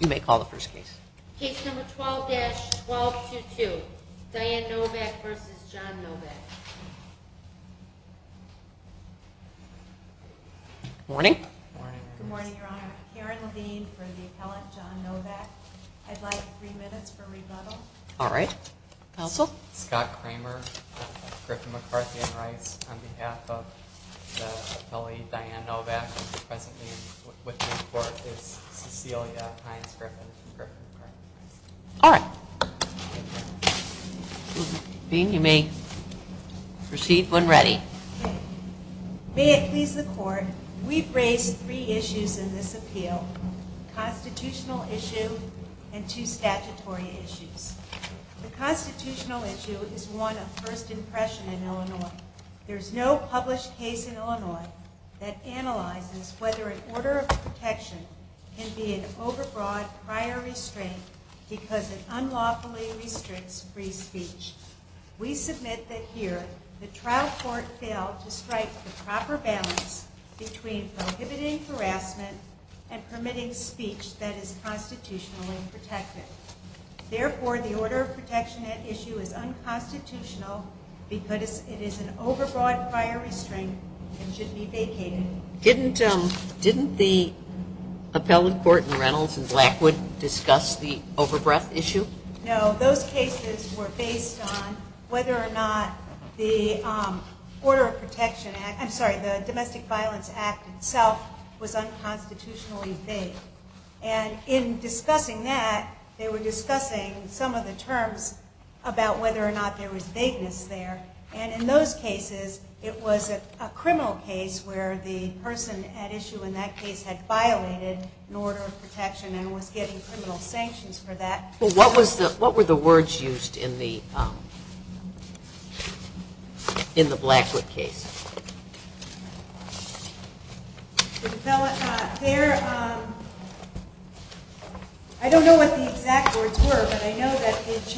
You may call the first case. Case number 12-1222, Diane Novak v. John Novak. Good morning. Good morning, Your Honor. Karen Levine for the appellant, John Novak. I'd like three minutes for rebuttal. All right. Counsel? Scott Kramer, Griffin, McCarthy, and Rice on behalf of the Hines-Griffin Court. All right. Dean, you may proceed when ready. May it please the Court, we've raised three issues in this appeal, constitutional issue and two statutory issues. The constitutional issue is one of first impression in Illinois. There's no published case in Illinois that analyzes whether an order of protection can be an overbroad prior restraint because it unlawfully restricts free speech. We submit that here the trial court failed to strike the proper balance between prohibiting harassment and permitting speech that is constitutionally protected. Therefore, the order of protection at issue is unconstitutional because it is an unconstitutional case. Did the appellate court in Reynolds and Blackwood discuss the overbreadth issue? No. Those cases were based on whether or not the order of protection, I'm sorry, the Domestic Violence Act itself was unconstitutionally vague. And in discussing that, they were discussing some of the terms about whether or not there was violation in order of protection and was getting criminal sanctions for that. Well, what were the words used in the Blackwood case? I don't know what the exact words were, but I know that they weren't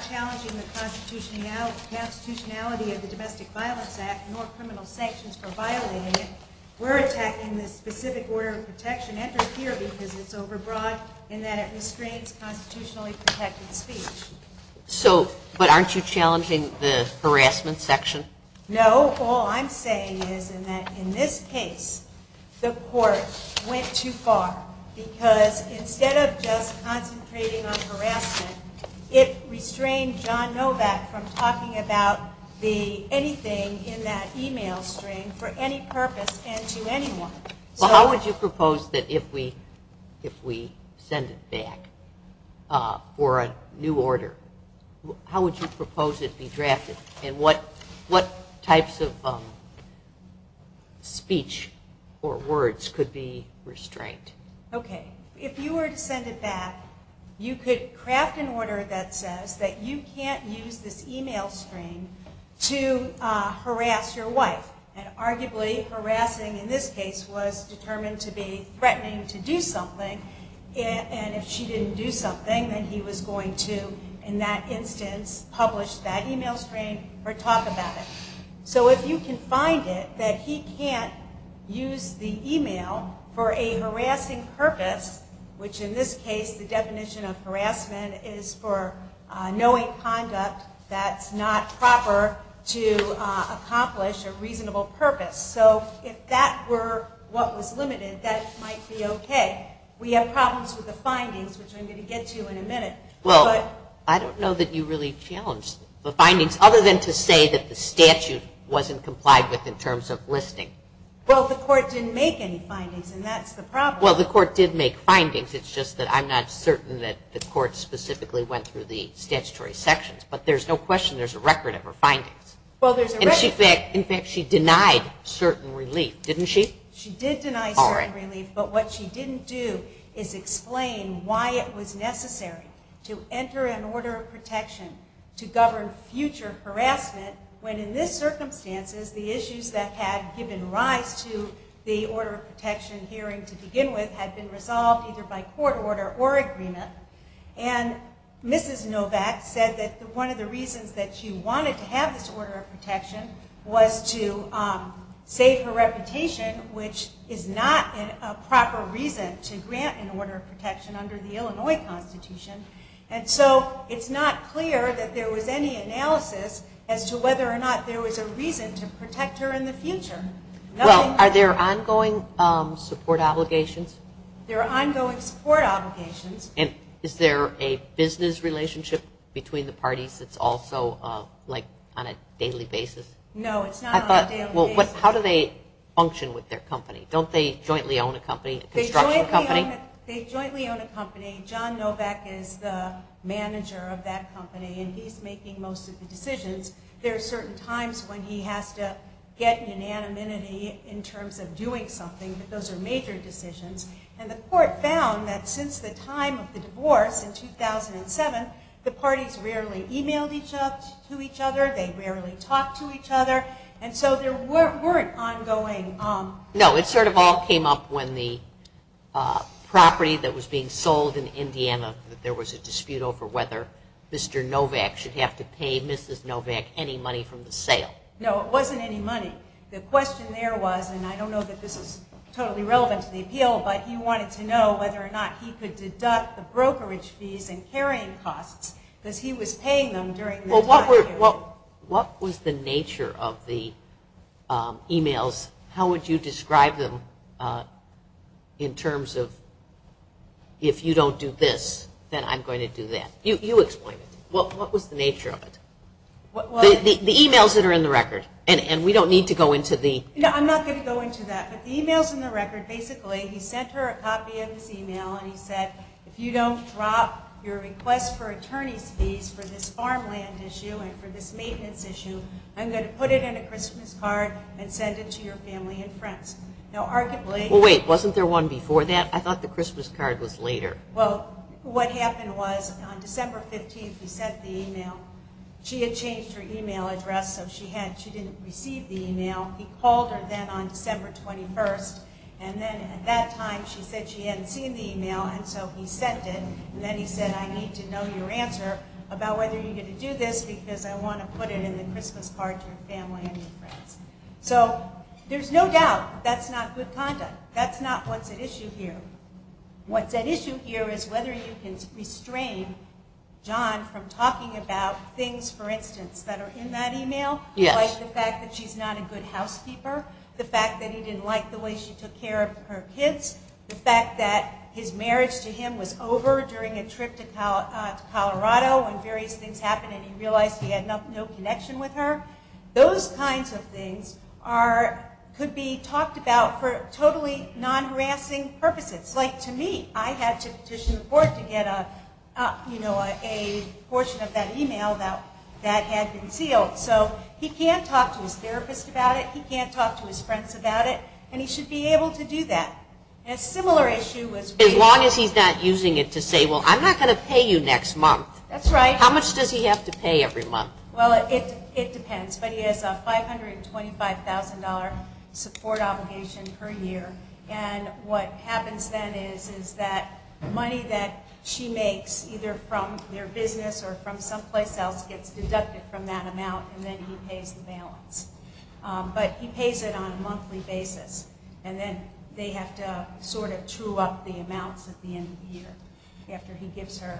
challenging the constitutionality of the Domestic Violence Act nor criminal sanctions for violating it. We're attacking the specific order of protection entered here because it's overbroad in that it restrains constitutionally protected speech. So, but aren't you challenging the harassment section? No. All I'm saying is in this case, the court went too far because instead of just restraining John Novak from talking about anything in that email string for any purpose and to anyone. Well, how would you propose that if we send it back for a new order, how would you propose it be that he can't use this email string to harass your wife? And arguably harassing in this case was determined to be threatening to do something, and if she didn't do something, then he was going to, in that instance, publish that email string or talk about it. So if you can find it that he can't use the email for a harassing purpose, which in this case the definition of harassment is for knowing conduct that's not proper to accomplish a reasonable purpose. So if that were what was limited, that might be okay. We have problems with the findings, which I'm going to get to in a minute. Well, I don't know that you really challenged the findings, other than to say that the statute wasn't complied with in terms of listing. Well, the court didn't make any findings, and that's the problem. Well, the court did make findings, it's just that I'm not certain that the court specifically went through the statutory sections, but there's no question there's a record of her findings. Well, there's a record. In fact, she denied certain relief, didn't she? She did deny certain relief, but what she didn't do is explain why it was necessary. It was necessary to enter an order of protection to govern future harassment, when in this circumstances the issues that had given rise to the order of protection hearing to begin with had been resolved either by court order or agreement. And Mrs. Novak said that one of the reasons that she wanted to have this order of protection was to save her reputation, which is not a proper reason to grant an order of protection under the Illinois Constitution. And so it's not clear that there was any analysis as to whether or not there was a reason to protect her in the future. Well, are there ongoing support obligations? There are ongoing support obligations. And is there a business relationship between the parties that's also like on a daily basis? No, it's not on a daily basis. How do they function with their company? Don't they jointly own a company, a construction company? They jointly own a company. John Novak is the manager of that company, and he's making most of the decisions. There are certain times when he has to get unanimity in terms of doing something, but those are major decisions. And the court found that since the time of the divorce in 2007, the parties rarely emailed each other, they rarely talked to each other, and so there weren't ongoing... No, it sort of all came up when the property that was being sold in Indiana, that there was a dispute over whether Mr. Novak should have to pay Mrs. Novak any money from the sale. No, it wasn't any money. The question there was, and I don't know that this is totally relevant to the appeal, but he wanted to know whether or not he could deduct the brokerage fees and carrying costs because he was paying them during the time period. What was the nature of the emails? How would you describe them in terms of, if you don't do this, then I'm going to do that? You explain it. What was the nature of it? The emails that are in the record, and we don't need to go into the... No, I'm not going to go into that, but the emails in the record, basically, he sent her a copy of his email and he said, if you don't drop your request for attorney's fees for this farmland issue and for this maintenance issue, I'm going to put it in a Christmas card and send it to your family and friends. Now, arguably... He sent her that on December 21st, and then at that time, she said she hadn't seen the email, and so he sent it, and then he said, I need to know your answer about whether you're going to do this because I want to put it in the Christmas card to your family and your friends. So, there's no doubt that's not good conduct. That's not what's at issue here. What's at issue here is whether you can restrain John from talking about things, for instance, that are in that email, like the fact that she's not a good housekeeper. The fact that he didn't like the way she took care of her kids. The fact that his marriage to him was over during a trip to Colorado when various things happened and he realized he had no connection with her. Those kinds of things could be talked about for totally non-harassing purposes. Like, to me, I had to petition the court to get a portion of that email that had been sealed. So, he can't talk to his therapist about it. He can't talk to his friends about it, and he should be able to do that. A similar issue was... As long as he's not using it to say, well, I'm not going to pay you next month. That's right. How much does he have to pay every month? Well, it depends. But he has a $525,000 support obligation per year. And what happens then is that money that she makes, either from their business or from someplace else, gets deducted from that amount, and then he pays the balance. But he pays it on a monthly basis. And then they have to sort of true up the amounts at the end of the year after she gives him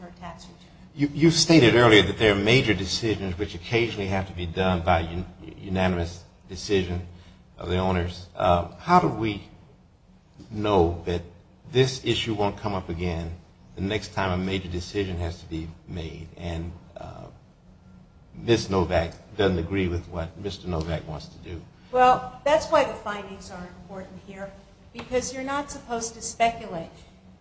her tax return. You stated earlier that there are major decisions which occasionally have to be done by unanimous decision of the owners. How do we know that this issue won't come up again the next time a major decision has to be made and Ms. Novak doesn't agree with what Mr. Novak wants to do? Well, that's why the findings are important here, because you're not supposed to speculate.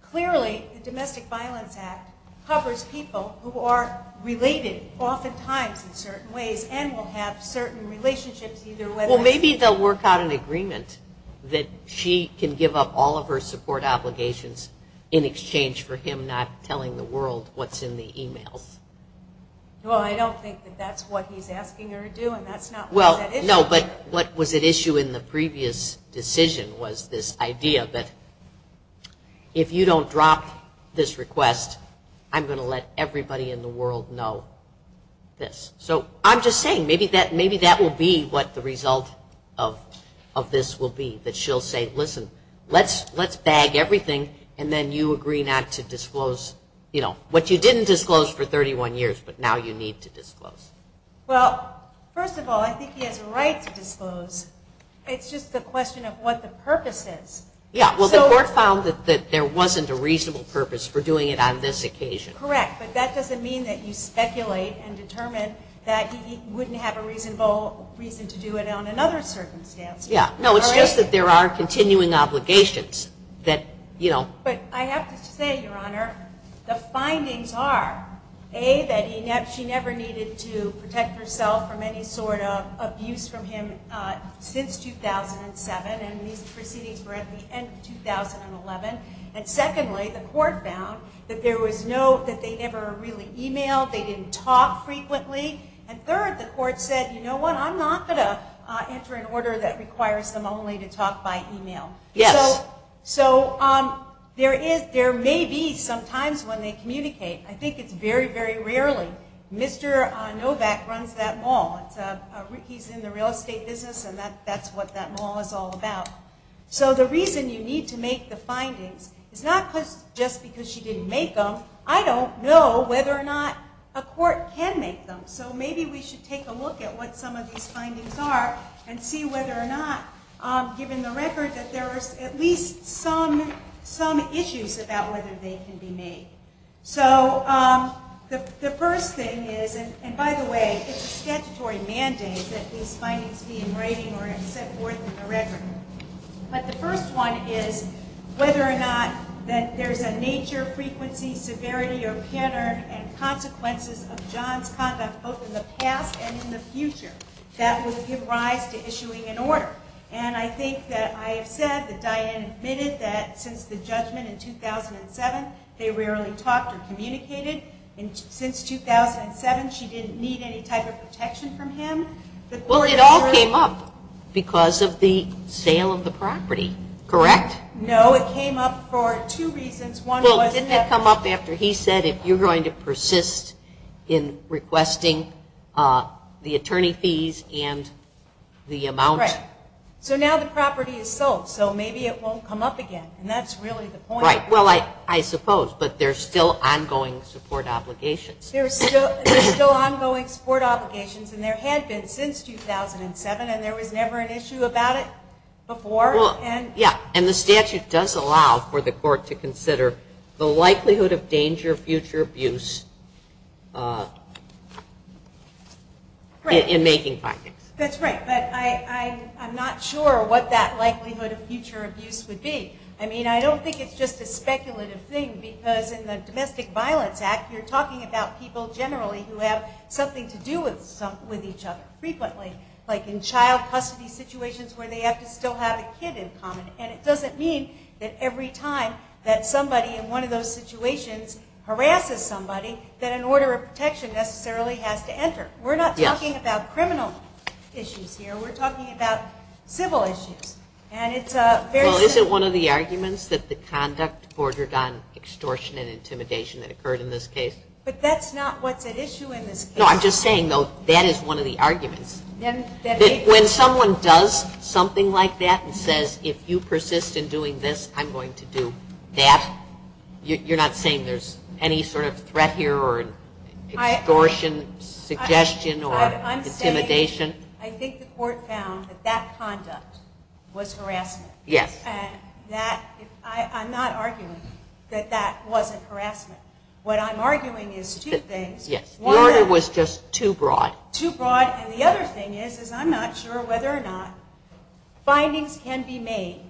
Clearly, the Domestic Violence Act covers people who are related oftentimes in certain ways and will have certain relationships either way. Well, maybe they'll work out an agreement that she can give up all of her support obligations in exchange for him not telling the world what's in the emails. Well, I don't think that that's what he's asking her to do, and that's not what that issue is. No, but what was at issue in the previous decision was this idea that if you don't drop this request, I'm going to let everybody in the world know this. So I'm just saying maybe that will be what the result of this will be, that she'll say, listen, let's bag everything, and then you agree not to disclose what you didn't disclose for 31 years, but now you need to disclose. Well, first of all, I think he has a right to disclose. It's just a question of what the purpose is. Yeah, well, the court found that there wasn't a reasonable purpose for doing it on this occasion. Correct, but that doesn't mean that you speculate and determine that he wouldn't have a reasonable reason to do it on another circumstance. Yeah, no, it's just that there are continuing obligations that, you know. But I have to say, Your Honor, the findings are, A, that she never needed to protect herself from any sort of abuse from him since 2007, and these proceedings were at the end of 2011. And secondly, the court found that there was no, that they never really emailed, they didn't talk frequently, and third, the court said, you know what, I'm not going to enter an order that requires them only to talk by email. Yes. So there may be some times when they communicate. I think it's very, very rarely. Mr. Novak runs that mall. He's in the real estate business, and that's what that mall is all about. So the reason you need to make the findings is not just because she didn't make them. I don't know whether or not a court can make them. So maybe we should take a look at what some of these findings are and see whether or not, given the record, that there are at least some issues about whether they can be made. So the first thing is, and by the way, it's a statutory mandate that these findings be in writing or sent forth in the record. But the first one is whether or not that there's a nature, frequency, severity, or pattern and consequences of John's conduct both in the past and in the future that will give rise to issuing an order. And I think that I have said that Diane admitted that since the judgment in 2007, they rarely talked or communicated. Since 2007, she didn't need any type of protection from him. Well, it all came up because of the sale of the property, correct? No, it came up for two reasons. Well, didn't it come up after he said if you're going to persist in requesting the attorney fees and the amount? Right. So now the property is sold. So maybe it won't come up again. And that's really the point. Right. Well, I suppose. But there's still ongoing support obligations. There's still ongoing support obligations. And there had been since 2007. And there was never an issue about it before. And the statute does allow for the court to consider the likelihood of danger of future abuse in making findings. That's right. But I'm not sure what that likelihood of future abuse would be. I mean, I don't think it's just a speculative thing. Because in the Domestic Violence Act, you're talking about people generally who have something to do with each other frequently. Like in child custody situations where they have to still have a kid in common. And it doesn't mean that every time that somebody in one of those situations harasses somebody, that an order of protection necessarily has to enter. We're not talking about criminal issues here. We're talking about civil issues. Well, isn't one of the arguments that the conduct bordered on extortion and intimidation that occurred in this case? But that's not what's at issue in this case. No, I'm just saying, though, that is one of the arguments. When someone does something like that and says, if you persist in doing this, I'm going to do that, you're not saying there's any sort of threat here or extortion suggestion or intimidation? I think the court found that that conduct was harassment. Yes. And I'm not arguing that that wasn't harassment. What I'm arguing is two things. Yes. The order was just too broad. Too broad. And the other thing is, is I'm not sure whether or not findings can be made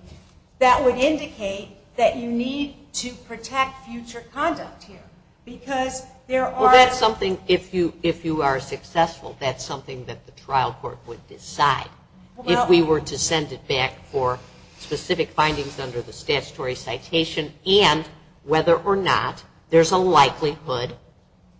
that would indicate that you need to protect future conduct here. Because there are... Well, that's something, if you are successful, that's something that the trial court would decide. If we were to send it back for specific findings under the statutory citation and whether or not there's a likelihood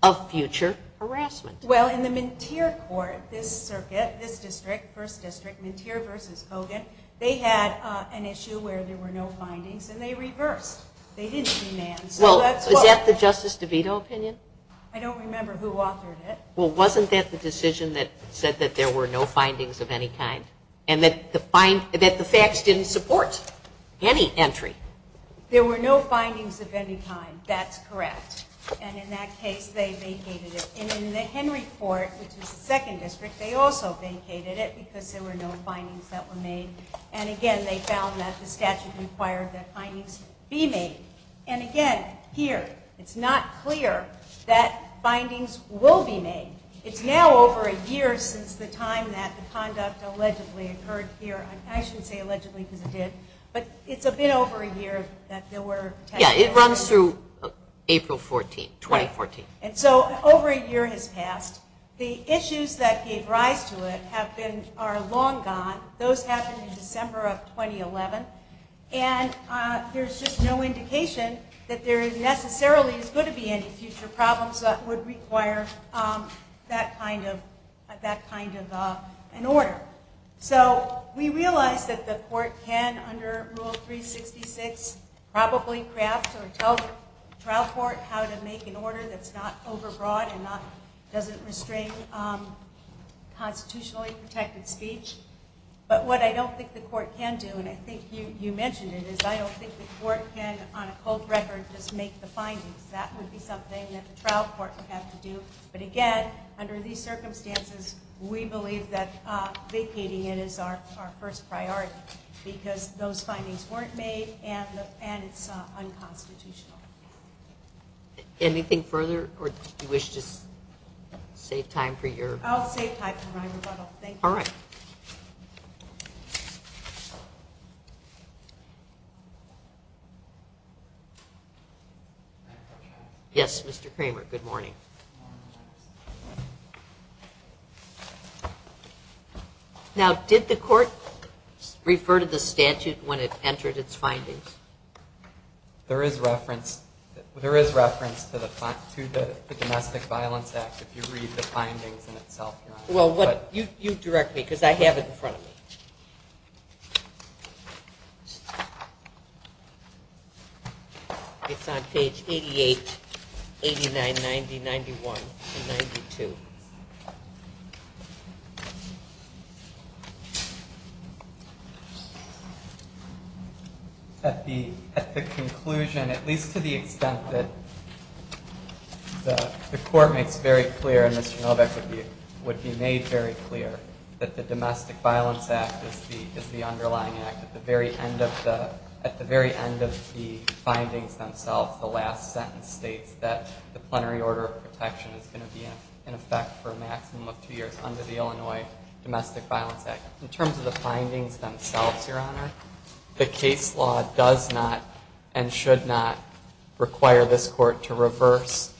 of future harassment. Well, in the Minteer court, this circuit, this district, first district, Minteer v. Hogan, they had an issue where there were no findings, and they reversed. They didn't demand. Well, is that the Justice DeVito opinion? I don't remember who authored it. Well, wasn't that the decision that said that there were no findings of any kind and that the facts didn't support any entry? There were no findings of any kind. That's correct. And in that case, they vacated it. And in the Henry court, which is the second district, they also vacated it because there were no findings that were made. And again, they found that the statute required that findings be made. And again, here, it's not clear that findings will be made. It's now over a year since the time that the conduct allegedly occurred here. I shouldn't say allegedly because it did. But it's a bit over a year that there were testimonies. Yeah, it runs through April 14th, 2014. And so over a year has passed. The issues that gave rise to it are long gone. Those happened in December of 2011. And there's just no indication that there necessarily is going to be any future problems that would require that kind of an order. So we realize that the court can, under Rule 366, probably craft or tell the trial court how to make an order that's not overbroad and doesn't restrain constitutionally protected speech. But what I don't think the court can do, and I think you mentioned it, is I don't think the court can, on a cold record, just make the findings. That would be something that the trial court would have to do. But, again, under these circumstances, we believe that vacating it is our first priority because those findings weren't made and it's unconstitutional. Anything further, or do you wish to save time for your rebuttal? I'll save time for my rebuttal. Thank you. All right. Yes, Mr. Kramer, good morning. Now, did the court refer to the statute when it entered its findings? There is reference to the Domestic Violence Act if you read the findings in itself. Well, you direct me because I have it in front of me. It's on page 88, 89, 90, 91, and 92. At the conclusion, at least to the extent that the court makes very clear, and Mr. Novak would be made very clear, that the Domestic Violence Act is the underlying act. At the very end of the findings themselves, the last sentence states that the plenary order of protection is going to be in effect for a maximum of two years under the Illinois Domestic Violence Act. In terms of the findings themselves, Your Honor, the case law does not and should not require this court to reverse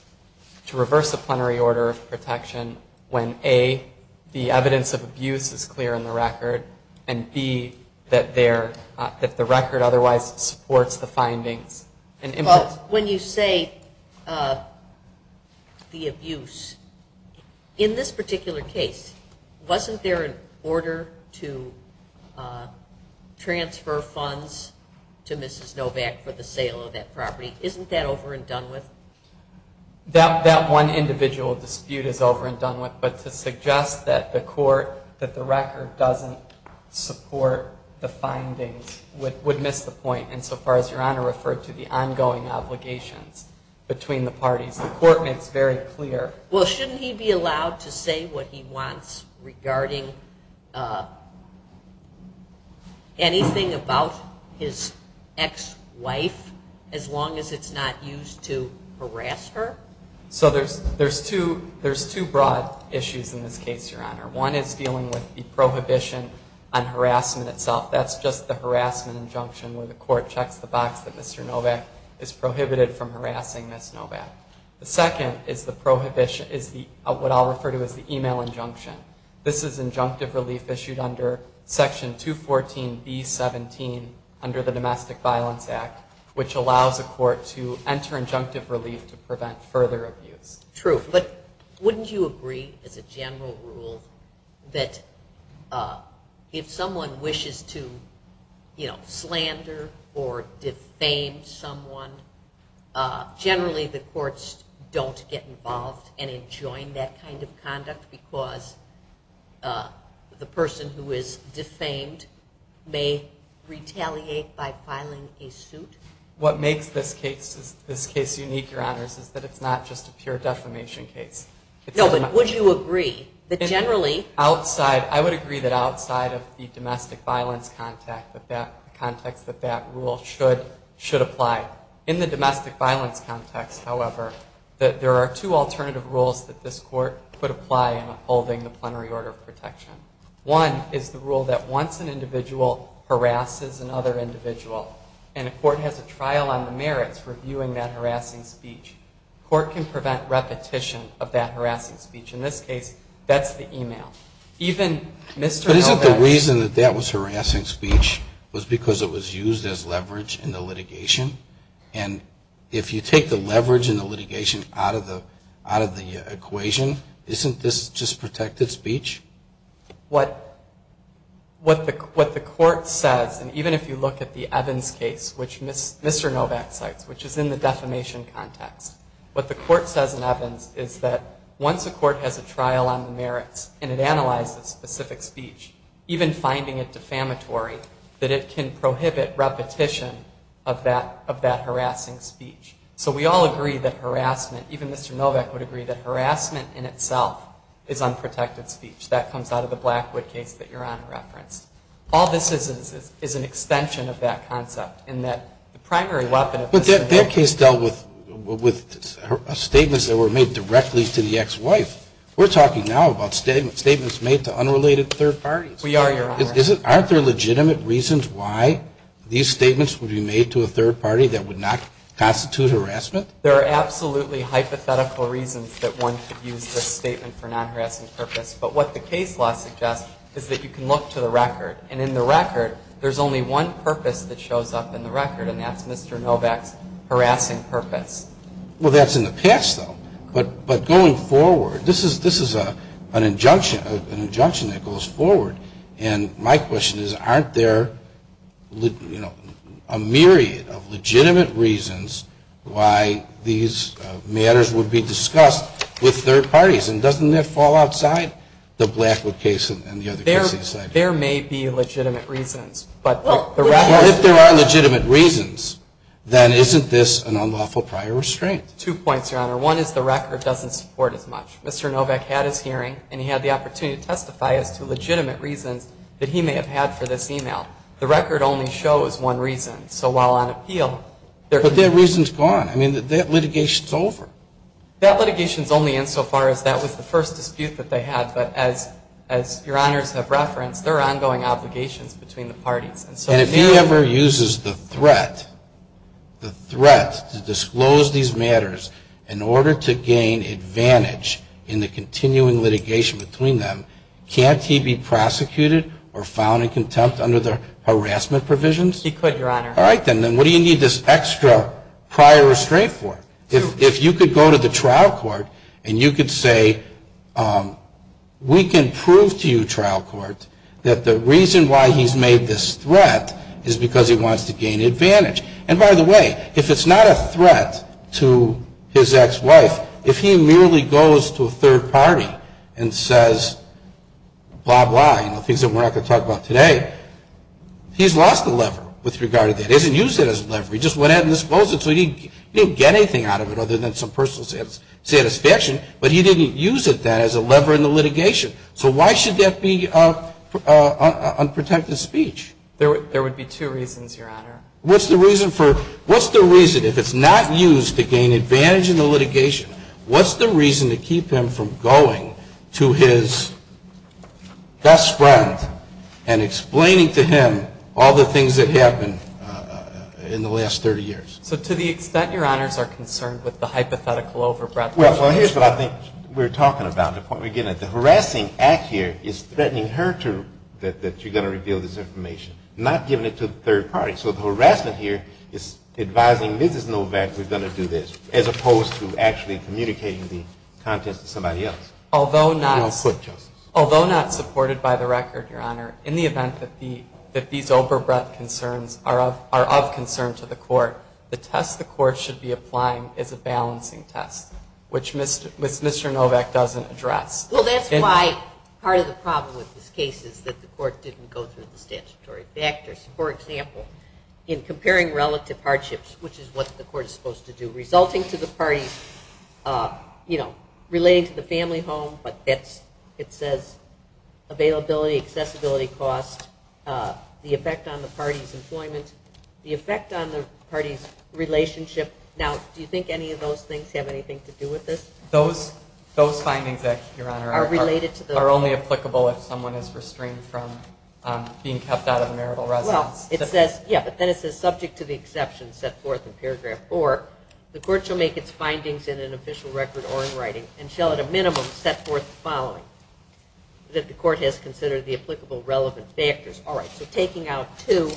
a plenary order of protection when A, the evidence of abuse is clear in the record, and B, that the record otherwise supports the findings. When you say the abuse, in this particular case, wasn't there an order to transfer funds to Mrs. Novak for the sale of that property? Isn't that over and done with? That one individual dispute is over and done with, but to suggest that the record doesn't support the findings would miss the point insofar as Your Honor referred to the ongoing obligations between the parties. The court makes very clear. Well, shouldn't he be allowed to say what he wants regarding anything about his ex-wife as long as it's not used to harass her? So there's two broad issues in this case, Your Honor. One is dealing with the prohibition on harassment itself. That's just the harassment injunction where the court checks the box that Mr. Novak is prohibited from harassing Ms. Novak. The second is what I'll refer to as the email injunction. This is injunctive relief issued under Section 214B-17 under the Domestic Violence Act, which allows a court to enter injunctive relief to prevent further abuse. True, but wouldn't you agree, as a general rule, that if someone wishes to slander or defame someone, generally the courts don't get involved and enjoin that kind of conduct because the person who is defamed may retaliate by filing a suit? What makes this case unique, Your Honors, is that it's not just a pure defamation case. No, but would you agree that generally outside, I would agree that outside of the domestic violence context that that rule should apply. In the domestic violence context, however, that there are two alternative rules that this court could apply in upholding the plenary order of protection. One is the rule that once an individual harasses another individual and a court has a trial on the merits for viewing that harassing speech, court can prevent repetition of that harassing speech. In this case, that's the email. But isn't the reason that that was harassing speech was because it was used as leverage in the litigation? And if you take the leverage in the litigation out of the equation, isn't this just protected speech? What the court says, and even if you look at the Evans case, which Mr. Novak cites, which is in the defamation context, what the court says in Evans is that once a court has a trial on the merits and it analyzes specific speech, even finding it defamatory, that it can prohibit repetition of that harassing speech. So we all agree that harassment, even Mr. Novak would agree, that harassment in itself is unprotected speech. That comes out of the Blackwood case that Your Honor referenced. All this is is an extension of that concept in that the primary weapon of this case. But their case dealt with statements that were made directly to the ex-wife. We're talking now about statements made to unrelated third parties. We are, Your Honor. Aren't there legitimate reasons why these statements would be made to a third party that would not constitute harassment? There are absolutely hypothetical reasons that one could use this statement for non-harassing purpose. But what the case law suggests is that you can look to the record, and in the record there's only one purpose that shows up in the record, and that's Mr. Novak's harassing purpose. Well, that's in the past, though. But going forward, this is an injunction that goes forward. And my question is, aren't there, you know, a myriad of legitimate reasons why these matters would be discussed with third parties? And doesn't that fall outside the Blackwood case and the other cases? There may be legitimate reasons. Well, if there are legitimate reasons, then isn't this an unlawful prior restraint? Two points, Your Honor. One is the record doesn't support as much. Mr. Novak had his hearing, and he had the opportunity to testify as to legitimate reasons that he may have had for this email. The record only shows one reason. So while on appeal there could be. But that reason's gone. I mean, that litigation's over. That litigation's only insofar as that was the first dispute that they had. But as Your Honors have referenced, there are ongoing obligations between the parties. And if he ever uses the threat, the threat to disclose these matters in order to gain advantage in the continuing litigation between them, can't he be prosecuted or found in contempt under the harassment provisions? He could, Your Honor. All right, then. Then what do you need this extra prior restraint for? If you could go to the trial court and you could say, we can prove to you, trial court, that the reason why he's made this threat is because he wants to gain advantage. And by the way, if it's not a threat to his ex-wife, if he merely goes to a third party and says blah, blah, you know, things that we're not going to talk about today, he's lost the lever with regard to that. He hasn't used it as a lever. He just went ahead and disclosed it. So he didn't get anything out of it other than some personal satisfaction. But he didn't use it then as a lever in the litigation. So why should that be unprotected speech? There would be two reasons, Your Honor. What's the reason if it's not used to gain advantage in the litigation? What's the reason to keep him from going to his best friend and explaining to him all the things that happened in the last 30 years? So to the extent, Your Honors, are concerned with the hypothetical overbreadth of the case. Well, here's what I think we're talking about. The point we're getting at, the harassing act here is threatening her that you're going to reveal this information, not giving it to the third party. So the harassment here is advising Mrs. Novak we're going to do this as opposed to actually communicating the contents to somebody else. Although not supported by the record, Your Honor, in the event that these overbreadth concerns are of concern to the court, the test the court should be applying is a balancing test, which Mr. Novak doesn't address. Well, that's why part of the problem with this case is that the court didn't go through the statutory factors. For example, in comparing relative hardships, which is what the court is supposed to do, resulting to the parties relating to the family home, but it says availability, accessibility, cost, the effect on the party's employment, the effect on the party's relationship. Now, do you think any of those things have anything to do with this? Those findings, Your Honor, are only applicable if someone is restrained from being kept out of a marital residence. Yeah, but then it says subject to the exceptions set forth in paragraph 4, the court shall make its findings in an official record or in writing and shall at a minimum set forth the following, that the court has considered the applicable relevant factors. All right, so taking out 2,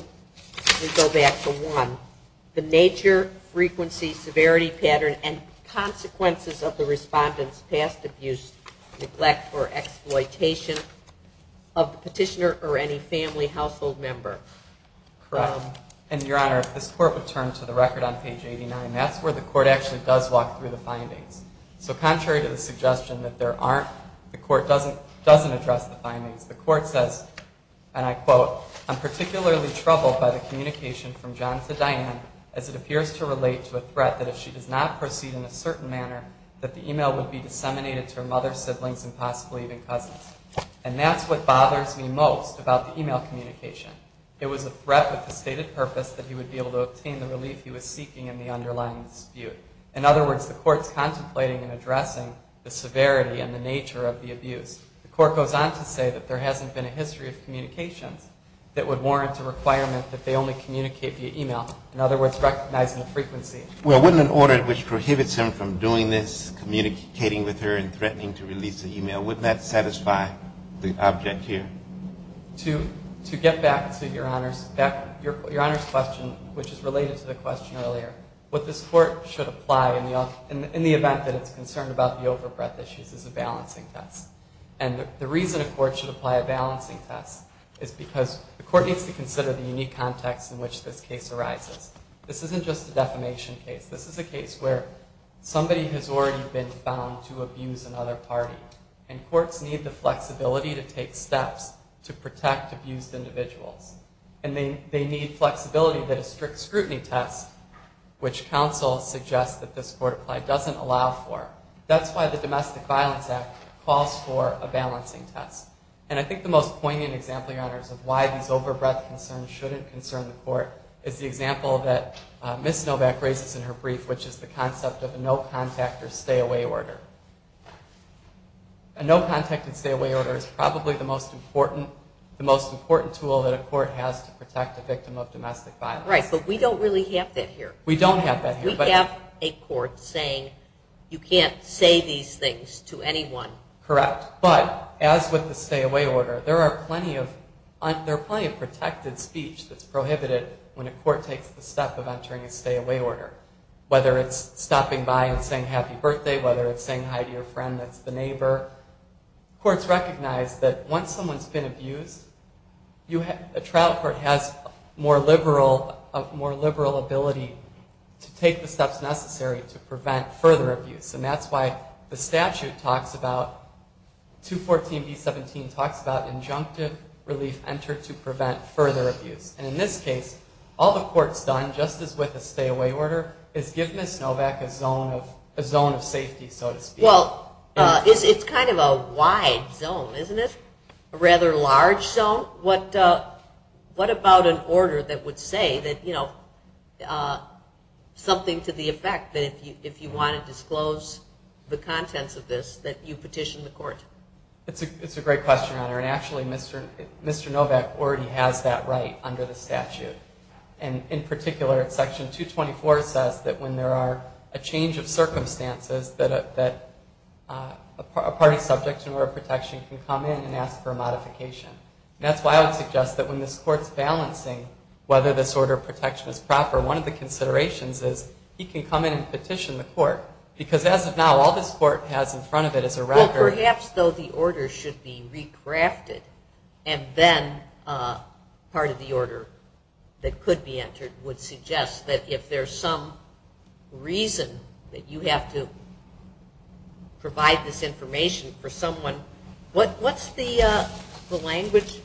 we go back to 1. The nature, frequency, severity pattern, and consequences of the respondent's past abuse, neglect, or exploitation of the petitioner or any family household member. Correct. And, Your Honor, if this court would turn to the record on page 89, that's where the court actually does walk through the findings. So contrary to the suggestion that there aren't, the court doesn't address the findings. The court says, and I quote, I'm particularly troubled by the communication from John to Diane as it appears to relate to a threat that if she does not proceed in a certain manner, that the email would be disseminated to her mother, siblings, and possibly even cousins. And that's what bothers me most about the email communication. It was a threat with the stated purpose that he would be able to obtain the relief he was seeking in the underlying dispute. In other words, the court's contemplating and addressing the severity and the nature of the abuse. The court goes on to say that there hasn't been a history of communications that would warrant a requirement that they only communicate via email. In other words, recognizing the frequency. Well, wouldn't an order which prohibits him from doing this, communicating with her, and threatening to release the email, wouldn't that satisfy the object here? To get back to Your Honor's question, which is related to the question earlier, what this court should apply in the event that it's concerned about the overbreath issues is a balancing test. And the reason a court should apply a balancing test is because the court needs to consider the unique context in which this case arises. This isn't just a defamation case. This is a case where somebody has already been found to abuse another party. And courts need the flexibility to take steps to protect abused individuals. And they need flexibility that a strict scrutiny test, which counsel suggests that this court apply, doesn't allow for. That's why the Domestic Violence Act calls for a balancing test. And I think the most poignant example, Your Honors, of why these overbreath concerns shouldn't concern the court is the example that Ms. Novak raises in her brief, which is the concept of a no-contact or stay-away order. A no-contact and stay-away order is probably the most important tool that a court has to protect a victim of domestic violence. Right, but we don't really have that here. We don't have that here. We have a court saying you can't say these things to anyone. Correct, but as with the stay-away order, there are plenty of protected speech that's prohibited when a court takes the step of entering a stay-away order, whether it's stopping by and saying happy birthday, whether it's saying hi to your friend that's the neighbor. Courts recognize that once someone's been abused, a trial court has a more liberal ability to take the steps necessary to prevent further abuse. And that's why the statute talks about, 214B17 talks about injunctive relief entered to prevent further abuse. And in this case, all the court's done, just as with a stay-away order, is give Ms. Novak a zone of safety, so to speak. Well, it's kind of a wide zone, isn't it? A rather large zone? What about an order that would say something to the effect that if you want to disclose the contents of this, that you petition the court? It's a great question, Honor, and actually Mr. Novak already has that right under the statute. And in particular, section 224 says that when there are a change of circumstances that a party subject to an order of protection can come in and ask for a modification. And that's why I would suggest that when this court's balancing whether this order of protection is proper, one of the considerations is he can come in and petition the court. Because as of now, all this court has in front of it is a record. Well, perhaps, though, the order should be recrafted, and then part of the order that could be entered would suggest that if there's some reason that you have to provide this information for someone, what's the language?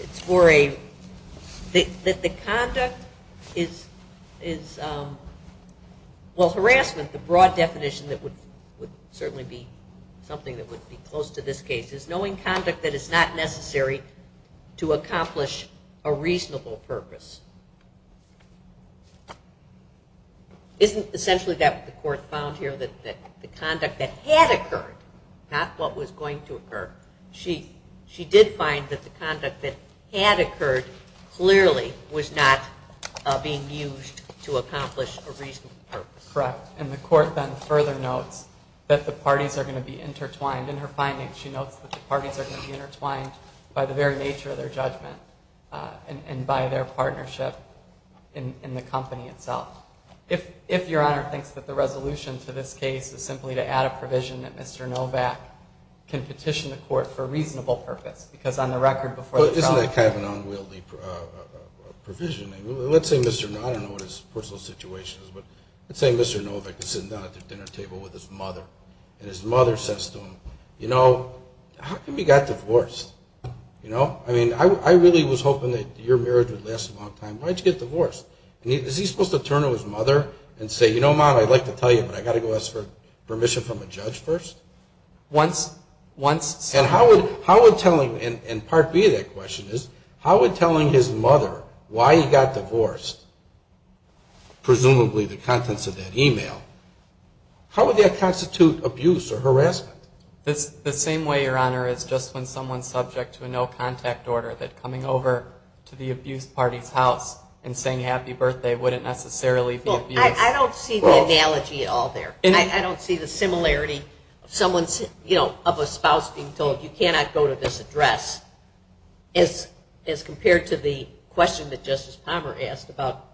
It's for a – that the conduct is – well, harassment, the broad definition that would certainly be something that would be close to this case, is knowing conduct that is not necessary to accomplish a reasonable purpose. Isn't essentially that what the court found here, that the conduct that had occurred, not what was going to occur? She did find that the conduct that had occurred clearly was not being used to accomplish a reasonable purpose. Correct. And the court then further notes that the parties are going to be intertwined. In her findings, she notes that the parties are going to be intertwined by the very nature of their judgment and by their partnership in the company itself. If Your Honor thinks that the resolution to this case is simply to add a provision that Mr. Novak can petition the court for a reasonable purpose, because on the record before the trial – But isn't that kind of an unwieldy provision? Let's say Mr. – I don't know what his personal situation is, but let's say Mr. Novak is sitting down at the dinner table with his mother, and his mother says to him, you know, how come you got divorced? I mean, I really was hoping that your marriage would last a long time. Why did you get divorced? Is he supposed to turn to his mother and say, you know, Mom, I'd like to tell you, but I've got to go ask for permission from a judge first? Once – And how would telling – and part B of that question is, how would telling his mother why he got divorced, presumably the contents of that email, how would that constitute abuse or harassment? The same way, Your Honor, as just when someone's subject to a no-contact order, that coming over to the abused party's house and saying happy birthday wouldn't necessarily be abuse. I don't see the analogy at all there. I don't see the similarity of someone's – you know, of a spouse being told, you cannot go to this address, as compared to the question that Justice Palmer asked about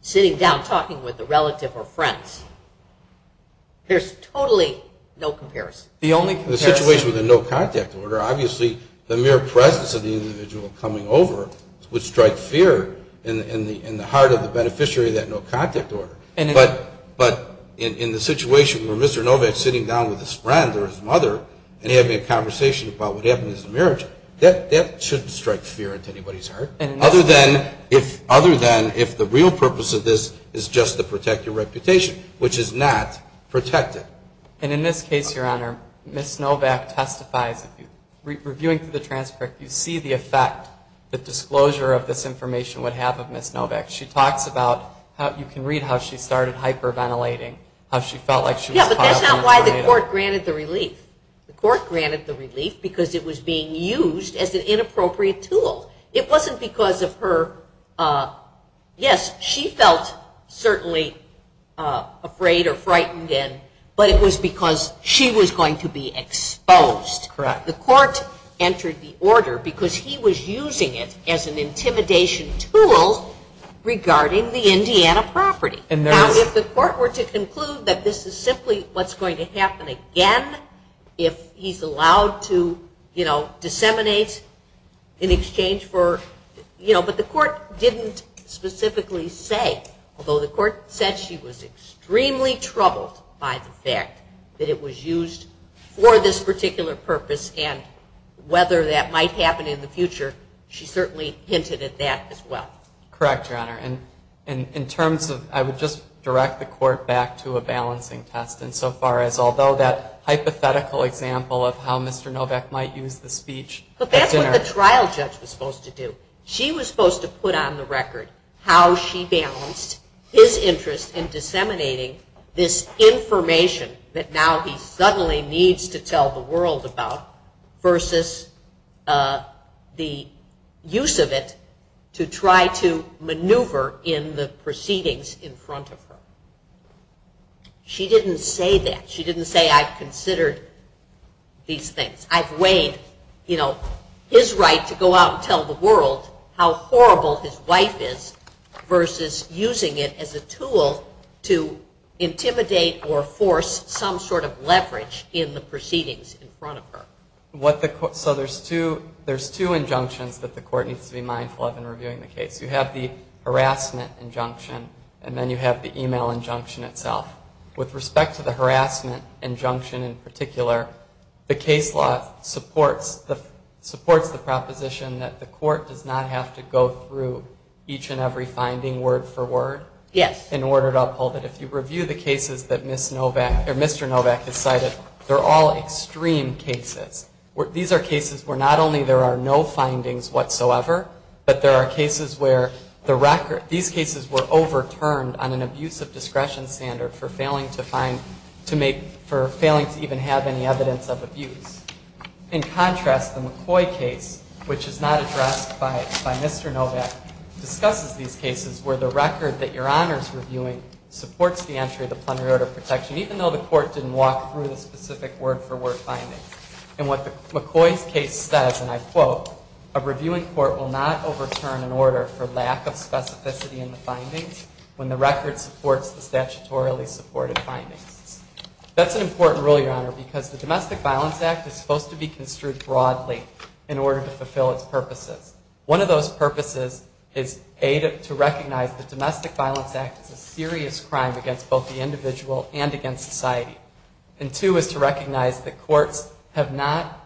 sitting down talking with a relative or friends. There's totally no comparison. The only comparison – In the situation with a no-contact order, obviously the mere presence of the individual coming over would strike fear in the heart of the beneficiary of that no-contact order. But in the situation where Mr. Novak's sitting down with his friend or his mother and having a conversation about what happened in his marriage, that shouldn't strike fear into anybody's heart. Other than if the real purpose of this is just to protect your reputation, which is not protected. And in this case, Your Honor, Ms. Novak testifies. Reviewing the transcript, you see the effect the disclosure of this information would have of Ms. Novak. She talks about how – you can read how she started hyperventilating, how she felt like she was caught up in the tornado. Yeah, but that's not why the court granted the relief. The court granted the relief because it was being used as an inappropriate tool. It wasn't because of her – yes, she felt certainly afraid or frightened, but it was because she was going to be exposed. Correct. The court entered the order because he was using it as an intimidation tool regarding the Indiana property. Now, if the court were to conclude that this is simply what's going to happen again, if he's allowed to disseminate in exchange for – but the court didn't specifically say, although the court said she was extremely troubled by the fact that it was used for this particular purpose and whether that might happen in the future, she certainly hinted at that as well. Correct, Your Honor. In terms of – I would just direct the court back to a balancing test insofar as although that hypothetical example of how Mr. Novak might use the speech. But that's what the trial judge was supposed to do. She was supposed to put on the record how she balanced his interest in disseminating this information that now he suddenly needs to tell the world about versus the use of it to try to maneuver in the proceedings in front of her. She didn't say that. She didn't say, I've considered these things. I've weighed his right to go out and tell the world how horrible his wife is versus using it as a tool to intimidate or force some sort of leverage in the proceedings in front of her. So there's two injunctions that the court needs to be mindful of in reviewing the case. You have the harassment injunction, and then you have the email injunction itself. With respect to the harassment injunction in particular, the case law supports the proposition that the court does not have to go through each and every finding word for word in order to uphold it. If you review the cases that Mr. Novak has cited, they're all extreme cases. These are cases where not only there are no findings whatsoever, but there are cases where these cases were overturned on an abuse of discretion standard for failing to even have any evidence of abuse. In contrast, the McCoy case, which is not addressed by Mr. Novak, discusses these cases where the record that your honor is reviewing supports the entry of the plenary order of protection, even though the court didn't walk through the specific word for word findings. And what McCoy's case says, and I quote, a reviewing court will not overturn an order for lack of specificity in the findings when the record supports the statutorily supported findings. That's an important rule, your honor, because the Domestic Violence Act is supposed to be construed broadly in order to fulfill its purposes. One of those purposes is to recognize the Domestic Violence Act is a serious crime against both the individual and against society. And two is to recognize that courts have not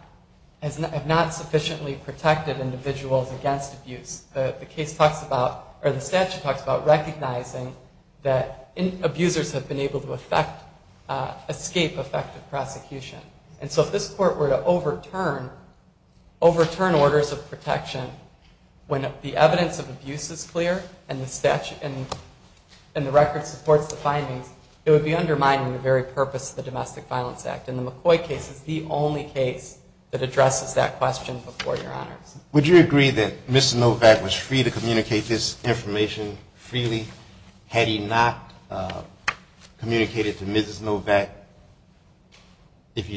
sufficiently protected individuals against abuse. The case talks about, or the statute talks about recognizing that abusers have been able to escape effective prosecution. And so if this court were to overturn orders of protection when the evidence of abuse is clear and the record supports the findings, it would be undermining the very purpose of the Domestic Violence Act. And the McCoy case is the only case that addresses that question before your honors. Would you agree that Mr. Novak was free to communicate this information freely? Had he not communicated to Mrs. Novak, if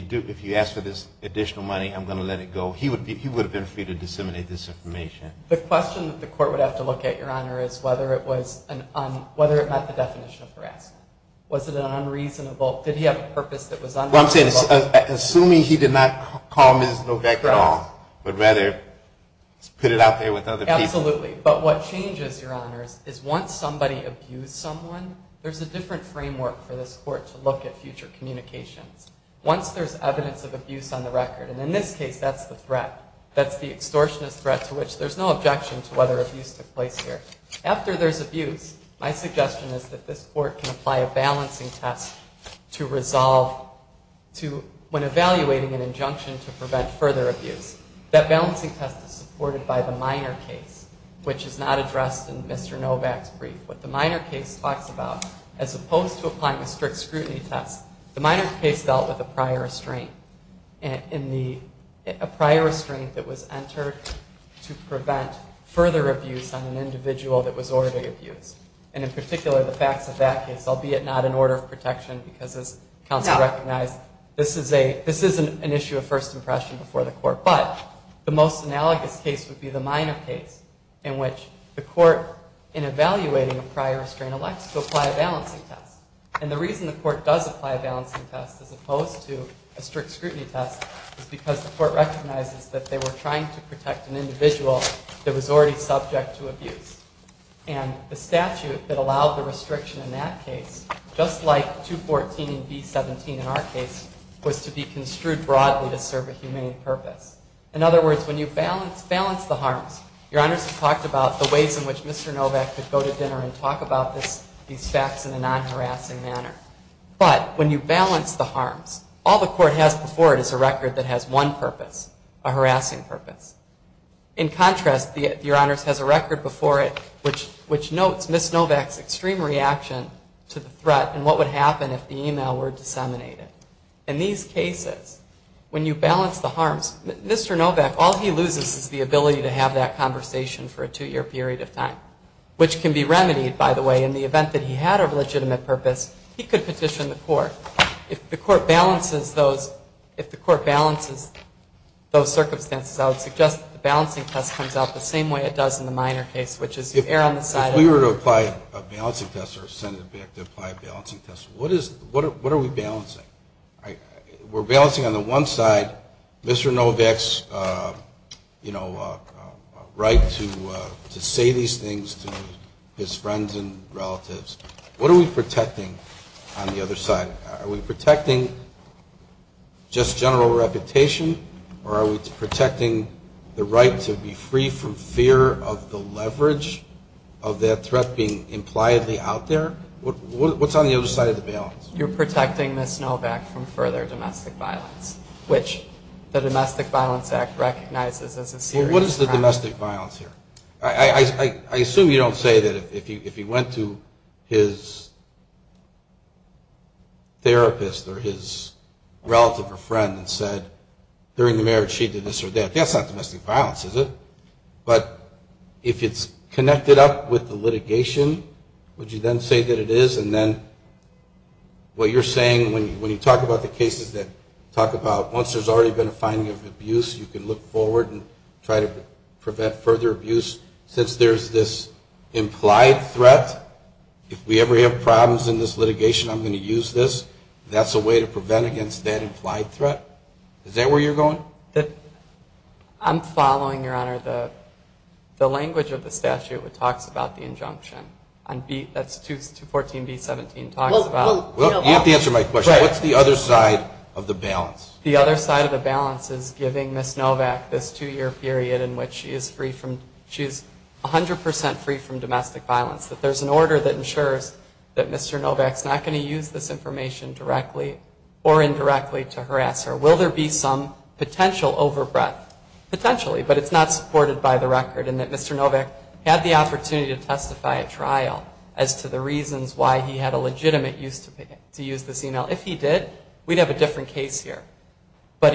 you ask for this additional money, I'm going to let it go, he would have been free to disseminate this information. The question that the court would have to look at, your honor, is whether it met the definition of harassment. Was it an unreasonable, did he have a purpose that was unreasonable? Well, I'm saying, assuming he did not call Mrs. Novak at all, but rather put it out there with other people. Absolutely. But what changes, your honors, is once somebody abused someone, there's a different framework for this court to look at future communications. Once there's evidence of abuse on the record, and in this case that's the threat, that's the extortionist threat to which there's no objection to whether abuse took place here. After there's abuse, my suggestion is that this court can apply a balancing test to resolve when evaluating an injunction to prevent further abuse. That balancing test is supported by the minor case, which is not addressed in Mr. Novak's brief. What the minor case talks about, as opposed to applying a strict scrutiny test, the minor case dealt with a prior restraint. A prior restraint that was entered to prevent further abuse on an individual that was already abused. And in particular, the facts of that case, albeit not in order of protection, because as counsel recognized, this is an issue of first impression before the court. But the most analogous case would be the minor case in which the court, in evaluating a prior restraint, elects to apply a balancing test. And the reason the court does apply a balancing test, as opposed to a strict scrutiny test, is because the court recognizes that they were trying to protect an individual that was already subject to abuse. And the statute that allowed the restriction in that case, just like 214 and B-17 in our case, was to be construed broadly to serve a humane purpose. In other words, when you balance the harms, Your Honors has talked about the ways in which Mr. Novak could go to dinner and talk about these facts in a non-harassing manner. But when you balance the harms, all the court has before it is a record that has one purpose, a harassing purpose. In contrast, Your Honors has a record before it, which notes Ms. Novak's extreme reaction to the threat and what would happen if the email were disseminated. In these cases, when you balance the harms, Mr. Novak, all he loses is the ability to have that conversation for a two-year period of time, which can be remedied, by the way, in the event that he had a legitimate purpose, he could petition the court. If the court balances those circumstances, I would suggest that the balancing test comes out the same way it does in the minor case, which is you err on the side of... If we were to apply a balancing test or send Novak to apply a balancing test, what are we balancing? We're balancing on the one side Mr. Novak's, you know, right to say these things to his friends and relatives. What are we protecting on the other side? Are we protecting just general reputation or are we protecting the right to be free from fear of the leverage of that threat being impliedly out there? What's on the other side of the balance? You're protecting Ms. Novak from further domestic violence, which the Domestic Violence Act recognizes as a serious crime. Well, what is the domestic violence here? I assume you don't say that if he went to his therapist or his relative or friend and said during the marriage she did this or that. That's not domestic violence, is it? But if it's connected up with the litigation, would you then say that it is? And then what you're saying when you talk about the cases that talk about once there's already been a finding of abuse, you can look forward and try to prevent further abuse. Since there's this implied threat, if we ever have problems in this litigation, I'm going to use this. That's a way to prevent against that implied threat. Is that where you're going? I'm following, Your Honor, the language of the statute that talks about the injunction. That's 214B-17 talks about. You have to answer my question. What's the other side of the balance? The other side of the balance is giving Ms. Novak this two-year period in which she is 100% free from domestic violence, that there's an order that ensures that Mr. Novak's not going to use this information directly or indirectly to harass her. Will there be some potential overbreath? Potentially, but it's not supported by the record, and that Mr. Novak had the opportunity to testify at trial as to the reasons why he had a legitimate use to use this e-mail. If he did, we'd have a different case here. But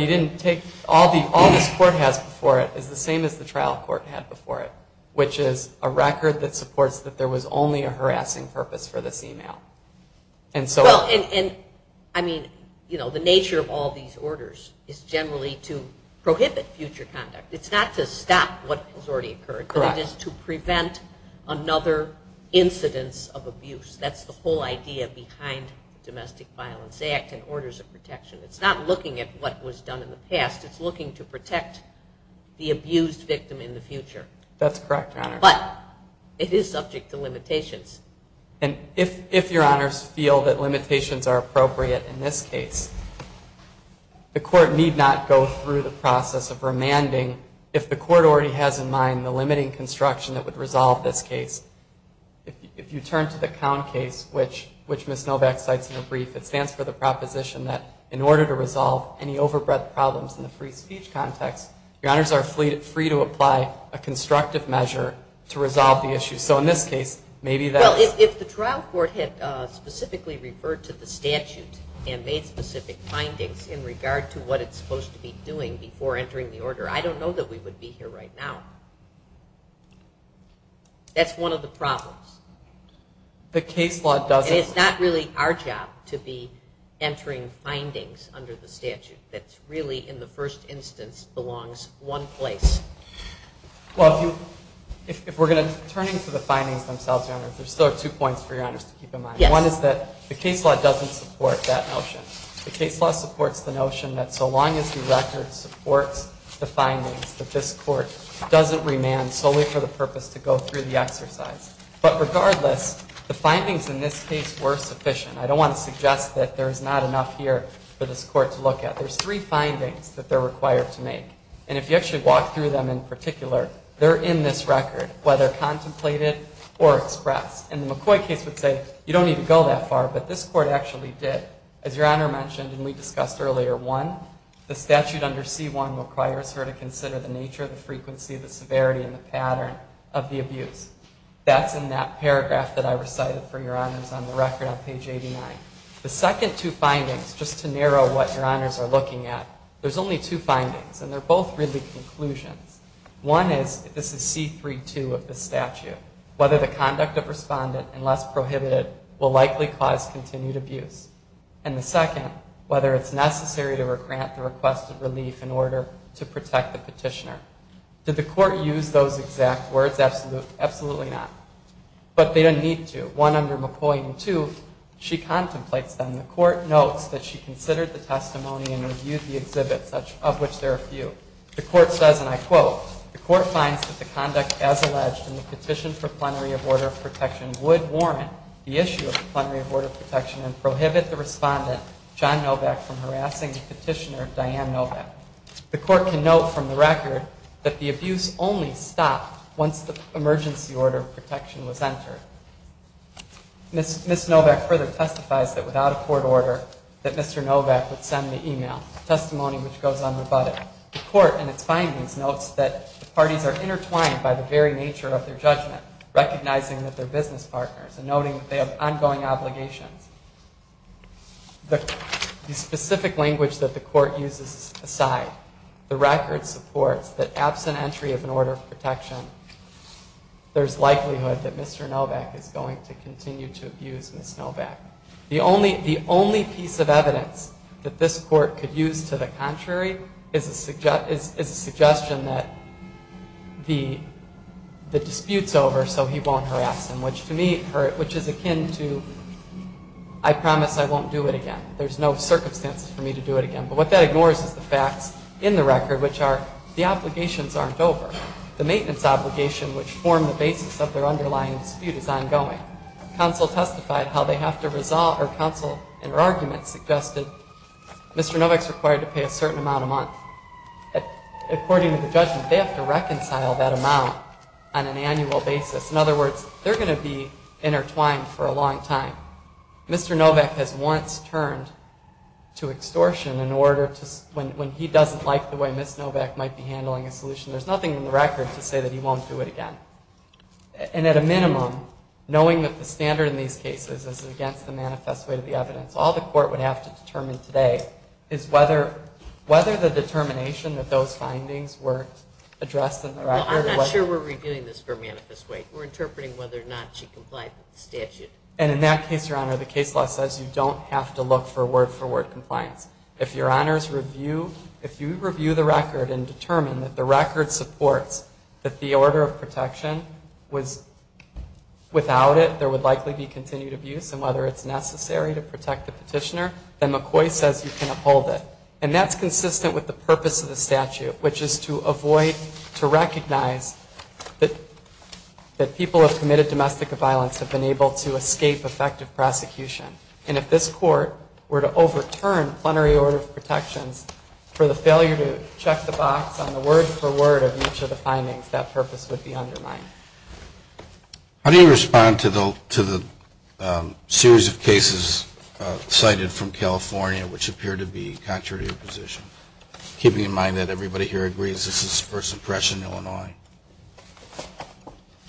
all this court has before it is the same as the trial court had before it, which is a record that supports that there was only a harassing purpose for this e-mail. The nature of all these orders is generally to prohibit future conduct. It's not to stop what has already occurred, but it is to prevent another incidence of abuse. That's the whole idea behind the Domestic Violence Act and orders of protection. It's not looking at what was done in the past. It's looking to protect the abused victim in the future. That's correct, Your Honor. But it is subject to limitations. If Your Honors feel that limitations are appropriate in this case, the court need not go through the process of remanding if the court already has in mind the limiting construction that would resolve this case. If you turn to the COUNT case, which Ms. Novak cites in her brief, it stands for the proposition that in order to resolve any overbred problems in the free speech context, Your Honors are free to apply a constructive measure to resolve the issue. So in this case, maybe that's... Well, if the trial court had specifically referred to the statute and made specific findings in regard to what it's supposed to be doing before entering the order, I don't know that we would be here right now. That's one of the problems. The case law doesn't... And it's not really our job to be entering findings under the statute that really in the first instance belongs one place. Well, if we're going to turn to the findings themselves, Your Honor, there are still two points for Your Honors to keep in mind. One is that the case law doesn't support that notion. The case law supports the notion that so long as the record supports the findings, that this court doesn't remand solely for the purpose to go through the exercise. But regardless, the findings in this case were sufficient. I don't want to suggest that there is not enough here for this court to look at. There's three findings that they're required to make. And if you actually walk through them in particular, they're in this record, whether contemplated or expressed. And the McCoy case would say you don't need to go that far, but this court actually did. As Your Honor mentioned and we discussed earlier, one, the statute under C-1 requires her to consider the nature, the frequency, the severity, and the pattern of the abuse. That's in that paragraph that I recited for Your Honors on the record on page 89. The second two findings, just to narrow what Your Honors are looking at, there's only two findings, and they're both really conclusions. One is, this is C-3-2 of the statute, whether the conduct of respondent, unless prohibited, will likely cause continued abuse. And the second, whether it's necessary to grant the request of relief in order to protect the petitioner. Did the court use those exact words? Absolutely not. But they didn't need to. One, under McCoy, and two, she contemplates them. The court notes that she considered the testimony and reviewed the exhibit, of which there are a few. The court says, and I quote, The court finds that the conduct as alleged in the petition for plenary of order of protection would warrant the issue of the plenary of order of protection and prohibit the respondent, John Novak, from harassing the petitioner, Diane Novak. The court can note from the record that the abuse only stopped once the emergency order of protection was entered. Ms. Novak further testifies that without a court order, that Mr. Novak would send the e-mail, a testimony which goes unrebutted. The court, in its findings, notes that the parties are intertwined by the very nature of their judgment, recognizing that they're business partners and noting that they have ongoing obligations. The specific language that the court uses aside, the record supports that absent entry of an order of protection, there's likelihood that Mr. Novak is going to continue to abuse Ms. Novak. The only piece of evidence that this court could use to the contrary is a suggestion that the dispute's over so he won't harass him, which to me, which is akin to, I promise I won't do it again. There's no circumstances for me to do it again. But what that ignores is the facts in the record, which are the obligations aren't over. The maintenance obligation which formed the basis of their underlying dispute is ongoing. Counsel testified how they have to resolve, or counsel in her argument suggested, Mr. Novak's required to pay a certain amount a month. According to the judgment, they have to reconcile that amount on an annual basis. In other words, they're going to be intertwined for a long time. Mr. Novak has once turned to extortion in order to, when he doesn't like the way Ms. Novak might be handling a solution, there's nothing in the record to say that he won't do it again. And at a minimum, knowing that the standard in these cases is against the manifest weight of the evidence, all the court would have to determine today is whether the determination that those findings were addressed in the record. I'm not sure we're reviewing this for manifest weight. We're interpreting whether or not she complied with the statute. And in that case, Your Honor, the case law says you don't have to look for word-for-word compliance. If Your Honor's review, if you review the record and determine that the record supports that the order of protection was without it, there would likely be continued abuse, and whether it's necessary to protect the petitioner, then McCoy says you can uphold it. And that's consistent with the purpose of the statute, which is to avoid, to recognize that people who have committed domestic violence have been able to escape effective prosecution. And if this court were to overturn plenary order of protections for the failure to check the box on the word-for-word of each of the findings, that purpose would be undermined. How do you respond to the series of cases cited from California which appear to be contrary to your position, keeping in mind that everybody here agrees this is first impression Illinois?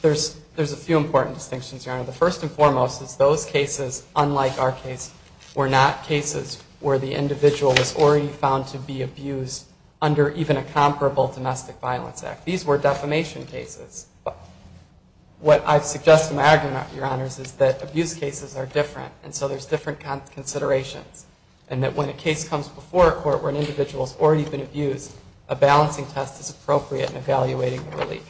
There's a few important distinctions, Your Honor. The first and foremost is those cases, unlike our case, were not cases where the individual was already found to be abused under even a comparable domestic violence act. These were defamation cases. What I've suggested in my argument, Your Honors, is that abuse cases are different, and so there's different considerations, and that when a case comes before a court where an individual has already been abused, a balancing test is appropriate in evaluating the relief.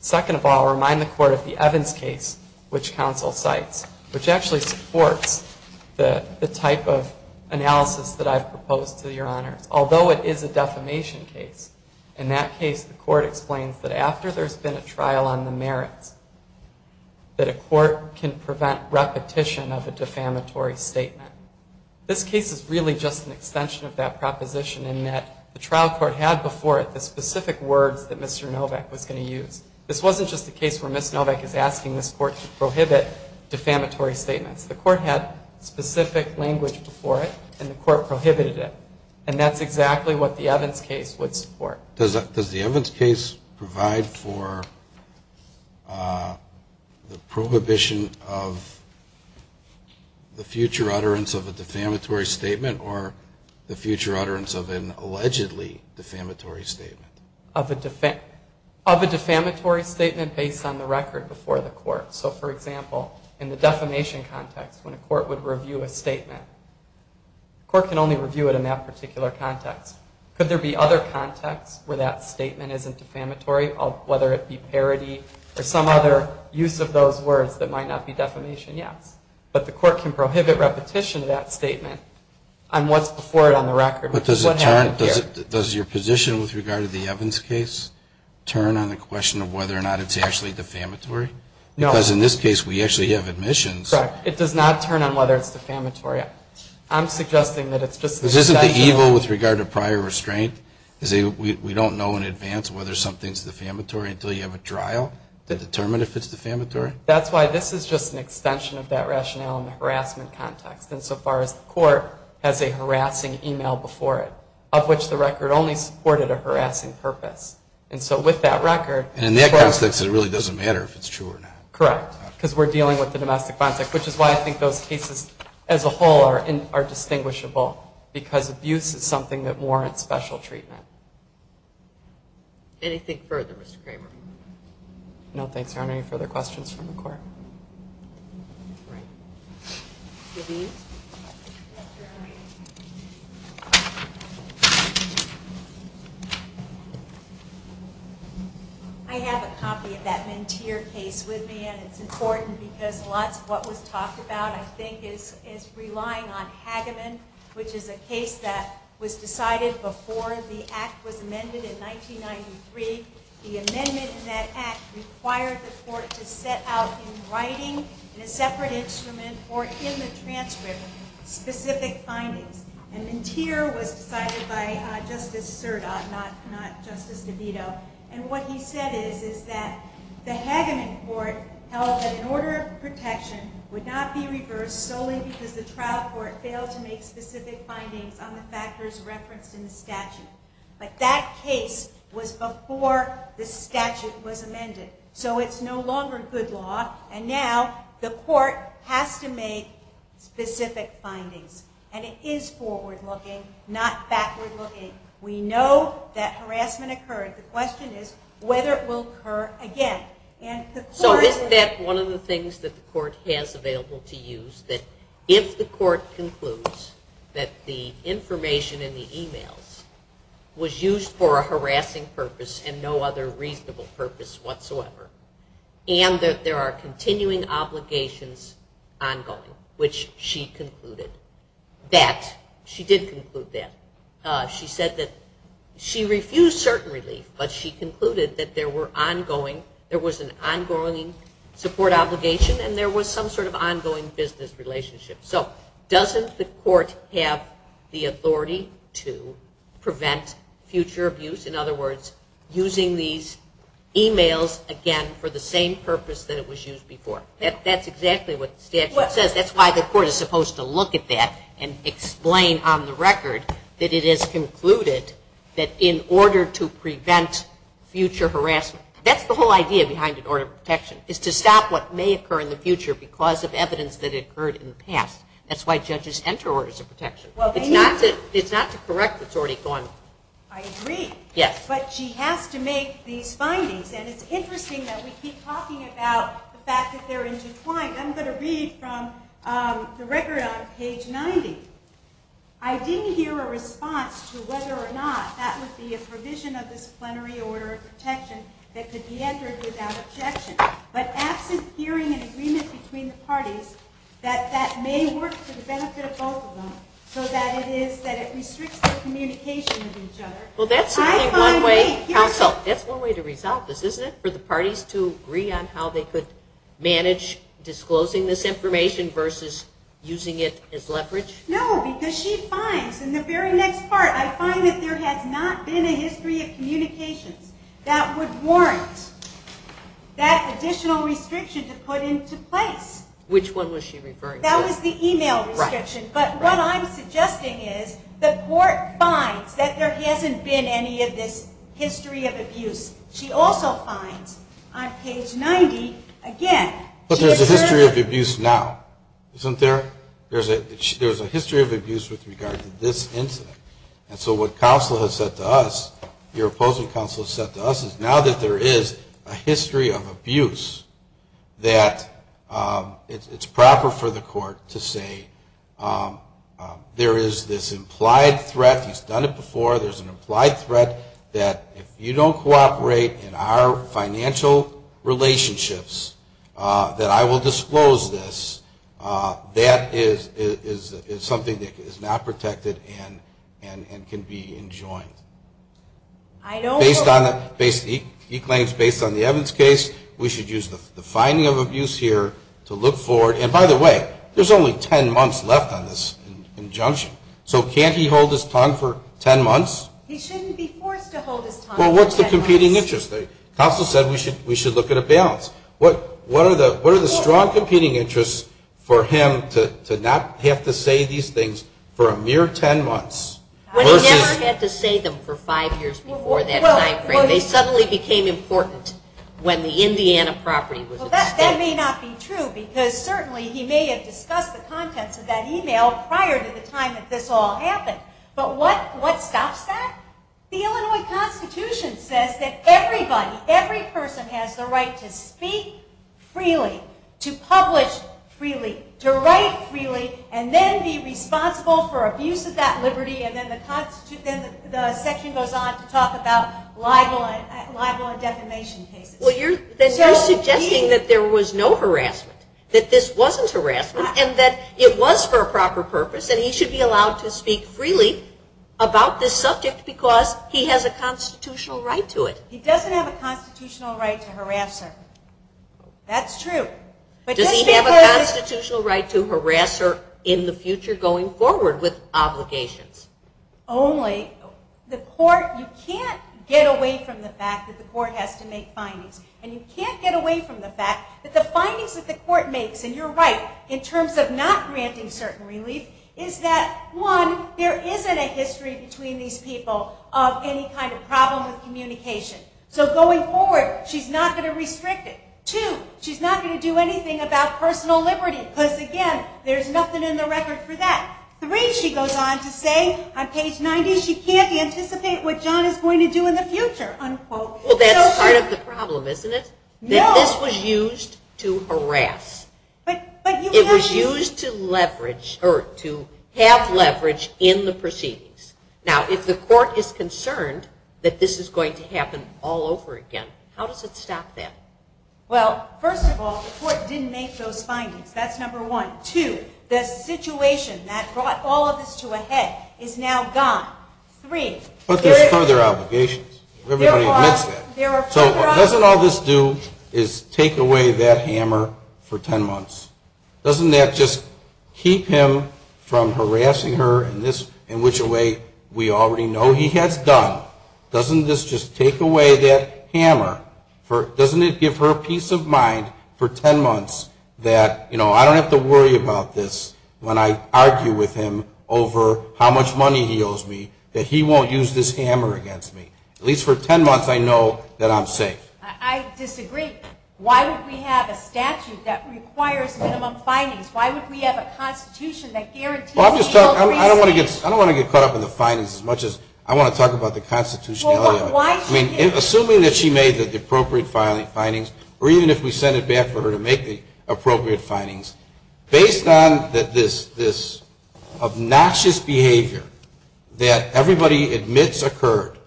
Second of all, I'll remind the court of the Evans case, which counsel cites, which actually supports the type of analysis that I've proposed to Your Honors. Although it is a defamation case, in that case the court explains that after there's been a trial on the merits, that a court can prevent repetition of a defamatory statement. This case is really just an extension of that proposition in that the trial court had before it the specific words that Mr. Novak was going to use. This wasn't just a case where Ms. Novak is asking this court to prohibit defamatory statements. The court had specific language before it, and the court prohibited it, and that's exactly what the Evans case would support. Does the Evans case provide for the prohibition of the future utterance of a defamatory statement or the future utterance of an allegedly defamatory statement? Of a defamatory statement based on the record before the court. So, for example, in the defamation context, when a court would review a statement, the court can only review it in that particular context. Could there be other contexts where that statement isn't defamatory, whether it be parody or some other use of those words that might not be defamation? Yes. But the court can prohibit repetition of that statement on what's before it on the record. Does your position with regard to the Evans case turn on the question of whether or not it's actually defamatory? No. Because in this case, we actually have admissions. Correct. It does not turn on whether it's defamatory. I'm suggesting that it's just an extension. This isn't the evil with regard to prior restraint? We don't know in advance whether something's defamatory until you have a trial to determine if it's defamatory? That's why this is just an extension of that rationale in the harassment context. And so far as the court has a harassing e-mail before it, of which the record only supported a harassing purpose. And so with that record. And in that context, it really doesn't matter if it's true or not. Correct, because we're dealing with the domestic context, which is why I think those cases as a whole are distinguishable, because abuse is something that warrants special treatment. Anything further, Mr. Kramer? No, thanks, Your Honor. Any further questions from the court? All right. Levine? Yes, Your Honor. I have a copy of that Mentir case with me, and it's important because a lot of what was talked about, I think, is relying on Hageman, which is a case that was decided before the act was amended in 1993. The amendment in that act required the court to set out in writing, in a separate instrument, or in the transcript, specific findings. And Mentir was decided by Justice Serdot, not Justice DeVito. And what he said is that the Hageman court held that an order of protection would not be reversed solely because the trial court failed to make specific findings on the factors referenced in the statute. But that case was before the statute was amended. So it's no longer good law, and now the court has to make specific findings. And it is forward-looking, not backward-looking. We know that harassment occurred. The question is whether it will occur again. So isn't that one of the things that the court has available to use, that if the court concludes that the information in the e-mails was used for a harassing purpose and no other reasonable purpose whatsoever, and that there are continuing obligations ongoing, which she concluded that, she did conclude that. She said that she refused certain relief, but she concluded that there were ongoing, there was an ongoing support obligation, and there was some sort of ongoing business relationship. So doesn't the court have the authority to prevent future abuse? In other words, using these e-mails again for the same purpose that it was used before? That's exactly what the statute says. That's why the court is supposed to look at that and explain on the record that it is concluded that in order to prevent future harassment. That's the whole idea behind an order of protection, is to stop what may occur in the future because of evidence that occurred in the past. That's why judges enter orders of protection. It's not to correct what's already gone. I agree. Yes. But she has to make these findings. And it's interesting that we keep talking about the fact that they're intertwined. I'm going to read from the record on page 90. I didn't hear a response to whether or not that would be a provision of disciplinary order of protection that could be entered without objection. But absent hearing an agreement between the parties that that may work for the benefit of both of them so that it is that it restricts their communication with each other. Well, that's one way to resolve this, isn't it? For the parties to agree on how they could manage disclosing this information versus using it as leverage? No, because she finds in the very next part, I find that there has not been a history of communications that would warrant that additional restriction to put into place. Which one was she referring to? That was the email restriction. But what I'm suggesting is the court finds that there hasn't been any of this history of abuse. She also finds on page 90, again, But there's a history of abuse now, isn't there? There's a history of abuse with regard to this incident. And so what counsel has said to us, your opposing counsel has said to us, is now that there is a history of abuse, that it's proper for the court to say there is this implied threat. He's done it before. There's an implied threat that if you don't cooperate in our financial relationships, that I will disclose this. That is something that is not protected and can be enjoined. He claims based on the Evans case, we should use the finding of abuse here to look forward. And by the way, there's only 10 months left on this injunction. So can't he hold his tongue for 10 months? He shouldn't be forced to hold his tongue for 10 months. Well, what's the competing interest? Counsel said we should look at a balance. What are the strong competing interests for him to not have to say these things for a mere 10 months? When he never had to say them for five years before that time frame, they suddenly became important when the Indiana property was at stake. Well, that may not be true because certainly he may have discussed the contents of that email prior to the time that this all happened. But what stops that? The Illinois Constitution says that everybody, every person has the right to speak freely, to publish freely, to write freely, and then be responsible for abuse of that liberty. And then the section goes on to talk about libel and defamation cases. Well, then you're suggesting that there was no harassment, that this wasn't harassment, and that it was for a proper purpose, and he should be allowed to speak freely about this subject because he has a constitutional right to it. He doesn't have a constitutional right to harass her. That's true. Does he have a constitutional right to harass her in the future going forward with obligations? Only. The court, you can't get away from the fact that the court has to make findings. And you can't get away from the fact that the findings that the court makes, and you're right in terms of not granting certain relief, is that, one, there isn't a history between these people of any kind of problem with communication. So going forward, she's not going to restrict it. Two, she's not going to do anything about personal liberty because, again, there's nothing in the record for that. Three, she goes on to say on page 90, she can't anticipate what John is going to do in the future, unquote. Well, that's part of the problem, isn't it? No. This was used to harass. It was used to leverage or to have leverage in the proceedings. Now, if the court is concerned that this is going to happen all over again, how does it stop that? Well, first of all, the court didn't make those findings. That's number one. Two, the situation that brought all of this to a head is now gone. Three. But there's further obligations. Everybody admits that. So doesn't all this do is take away that hammer for ten months? Doesn't that just keep him from harassing her in which way we already know he has done? Doesn't this just take away that hammer? Doesn't it give her peace of mind for ten months that, you know, I don't have to worry about this when I argue with him over how much money he owes me, that he won't use this hammer against me? At least for ten months I know that I'm safe. I disagree. Why would we have a statute that requires minimum findings? Why would we have a Constitution that guarantees no reason? I don't want to get caught up in the findings as much as I want to talk about the constitutionality of it. I mean, assuming that she made the appropriate findings, or even if we send it back for her to make the appropriate findings, based on this obnoxious behavior that everybody admits occurred,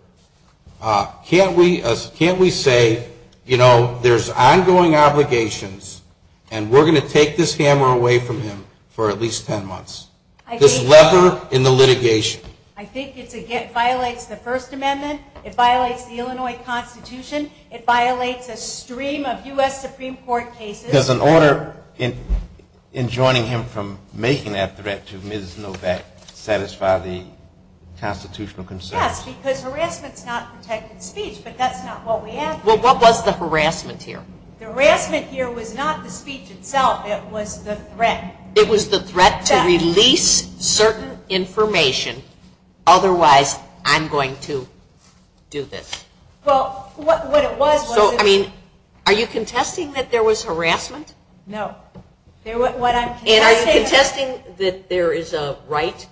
can't we say, you know, there's ongoing obligations and we're going to take this hammer away from him for at least ten months? This lever in the litigation. I think it violates the First Amendment. It violates the Illinois Constitution. It violates a stream of U.S. Supreme Court cases. Does an order enjoining him from making that threat to Ms. Novak satisfy the constitutional concerns? Yes, because harassment is not protected speech, but that's not what we have here. Well, what was the harassment here? The harassment here was not the speech itself. It was the threat. It was the threat to release certain information, otherwise I'm going to do this. Are you contesting that there was harassment? No. And are you contesting that there is a right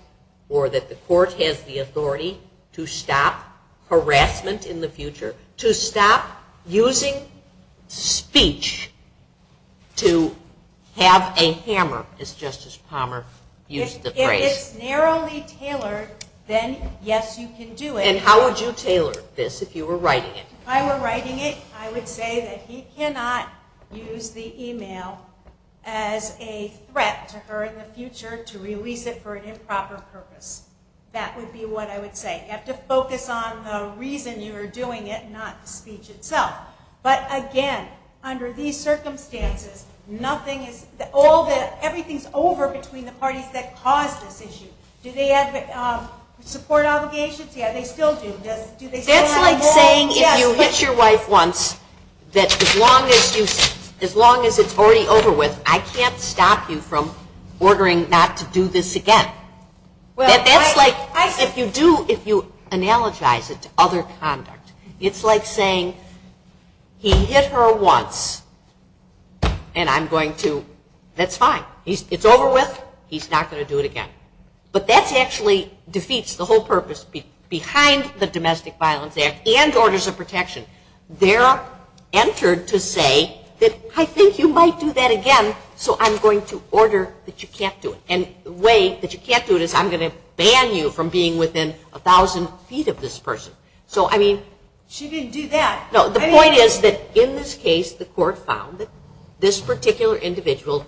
or that the court has the authority to stop harassment in the future, to stop using speech to have a hammer, as Justice Palmer used the phrase? If it's narrowly tailored, then yes, you can do it. And how would you tailor this if you were writing it? If I were writing it, I would say that he cannot use the email as a threat to her in the future to release it for an improper purpose. That would be what I would say. You have to focus on the reason you are doing it, not the speech itself. But again, under these circumstances, everything is over between the parties that caused this issue. Do they have support obligations? That's like saying if you hit your wife once, that as long as it's already over with, I can't stop you from ordering not to do this again. That's like if you analogize it to other conduct. It's like saying he hit her once and I'm going to, that's fine. It's over with, he's not going to do it again. But that actually defeats the whole purpose behind the Domestic Violence Act and Orders of Protection. They're entered to say that I think you might do that again, so I'm going to order that you can't do it. And the way that you can't do it is I'm going to ban you from being within 1,000 feet of this person. She didn't do that. The point is that in this case the court found that this particular individual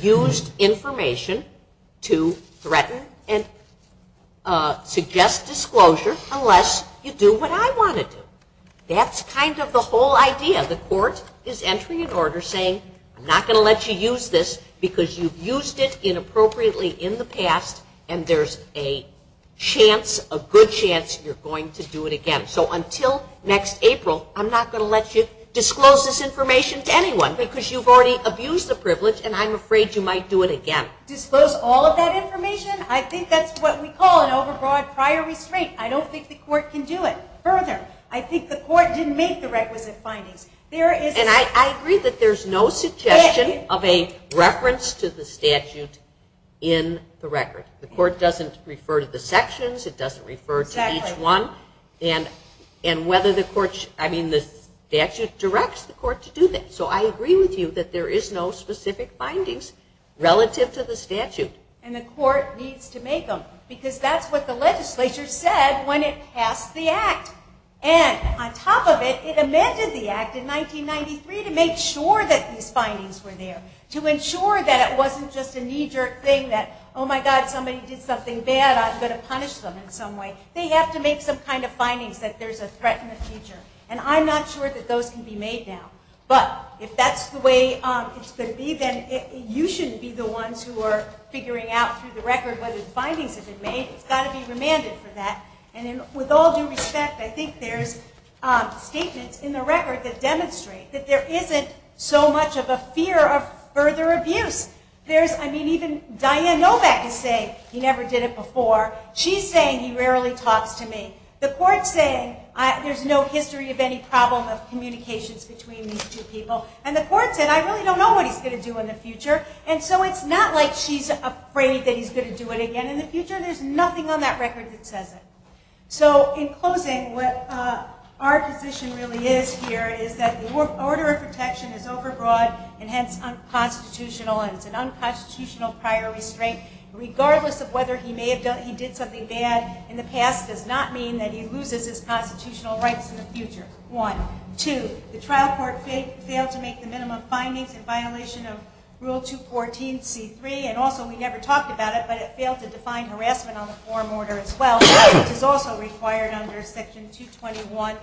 used information to threaten and suggest disclosure unless you do what I want to do. That's kind of the whole idea. The court is entering an order saying I'm not going to let you use this because you've used it inappropriately in the past and there's a chance, a good chance you're going to do it again. So until next April I'm not going to let you disclose this information to anyone because you've already abused the privilege and I'm afraid you might do it again. Disclose all of that information? I think that's what we call an overbroad prior restraint. I don't think the court can do it further. I think the court didn't make the requisite findings. And I agree that there's no suggestion of a reference to the statute in the record. The court doesn't refer to the sections, it doesn't refer to each one. And whether the statute directs the court to do that. So I agree with you that there is no specific findings relative to the statute. And the court needs to make them because that's what the legislature said when it passed the Act. And on top of it, it amended the Act in 1993 to make sure that these findings were there, to ensure that it wasn't just a knee-jerk thing that, oh my God, somebody did something bad, I'm going to punish them in some way. They have to make some kind of findings that there's a threat in the future. And I'm not sure that those can be made now. But if that's the way it's going to be, then you shouldn't be the ones who are figuring out through the record whether the findings have been made. It's got to be remanded for that. And with all due respect, I think there's statements in the record that demonstrate that there isn't so much of a fear of further abuse. There's, I mean, even Diane Novak is saying he never did it before. She's saying he rarely talks to me. The court's saying there's no history of any problem of communications between these two people. And the court said, I really don't know what he's going to do in the future. And so it's not like she's afraid that he's going to do it again in the future. There's nothing on that record that says it. So in closing, what our position really is here is that the order of protection is overbroad, and hence unconstitutional, and it's an unconstitutional prior restraint, regardless of whether he did something bad in the past does not mean that he loses his constitutional rights in the future. One. Two, the trial court failed to make the minimum findings in violation of Rule 214C3, and also we never talked about it, but it failed to define harassment on the forum order as well, which is also required under Section 221A1.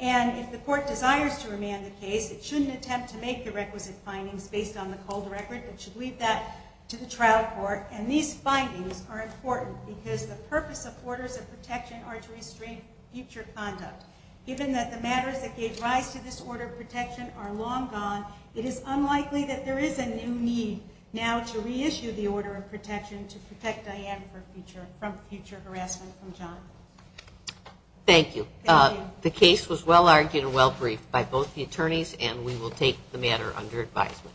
And if the court desires to remand the case, it shouldn't attempt to make the requisite findings based on the cold record, it should leave that to the trial court. And these findings are important because the purpose of orders of protection are to restrain future conduct. Given that the matters that gave rise to this order of protection are long gone, it is unlikely that there is a new need now to reissue the order of protection to protect Diane from future harassment from John. Thank you. The case was well-argued and well-briefed by both the attorneys, and we will take the matter under advisement.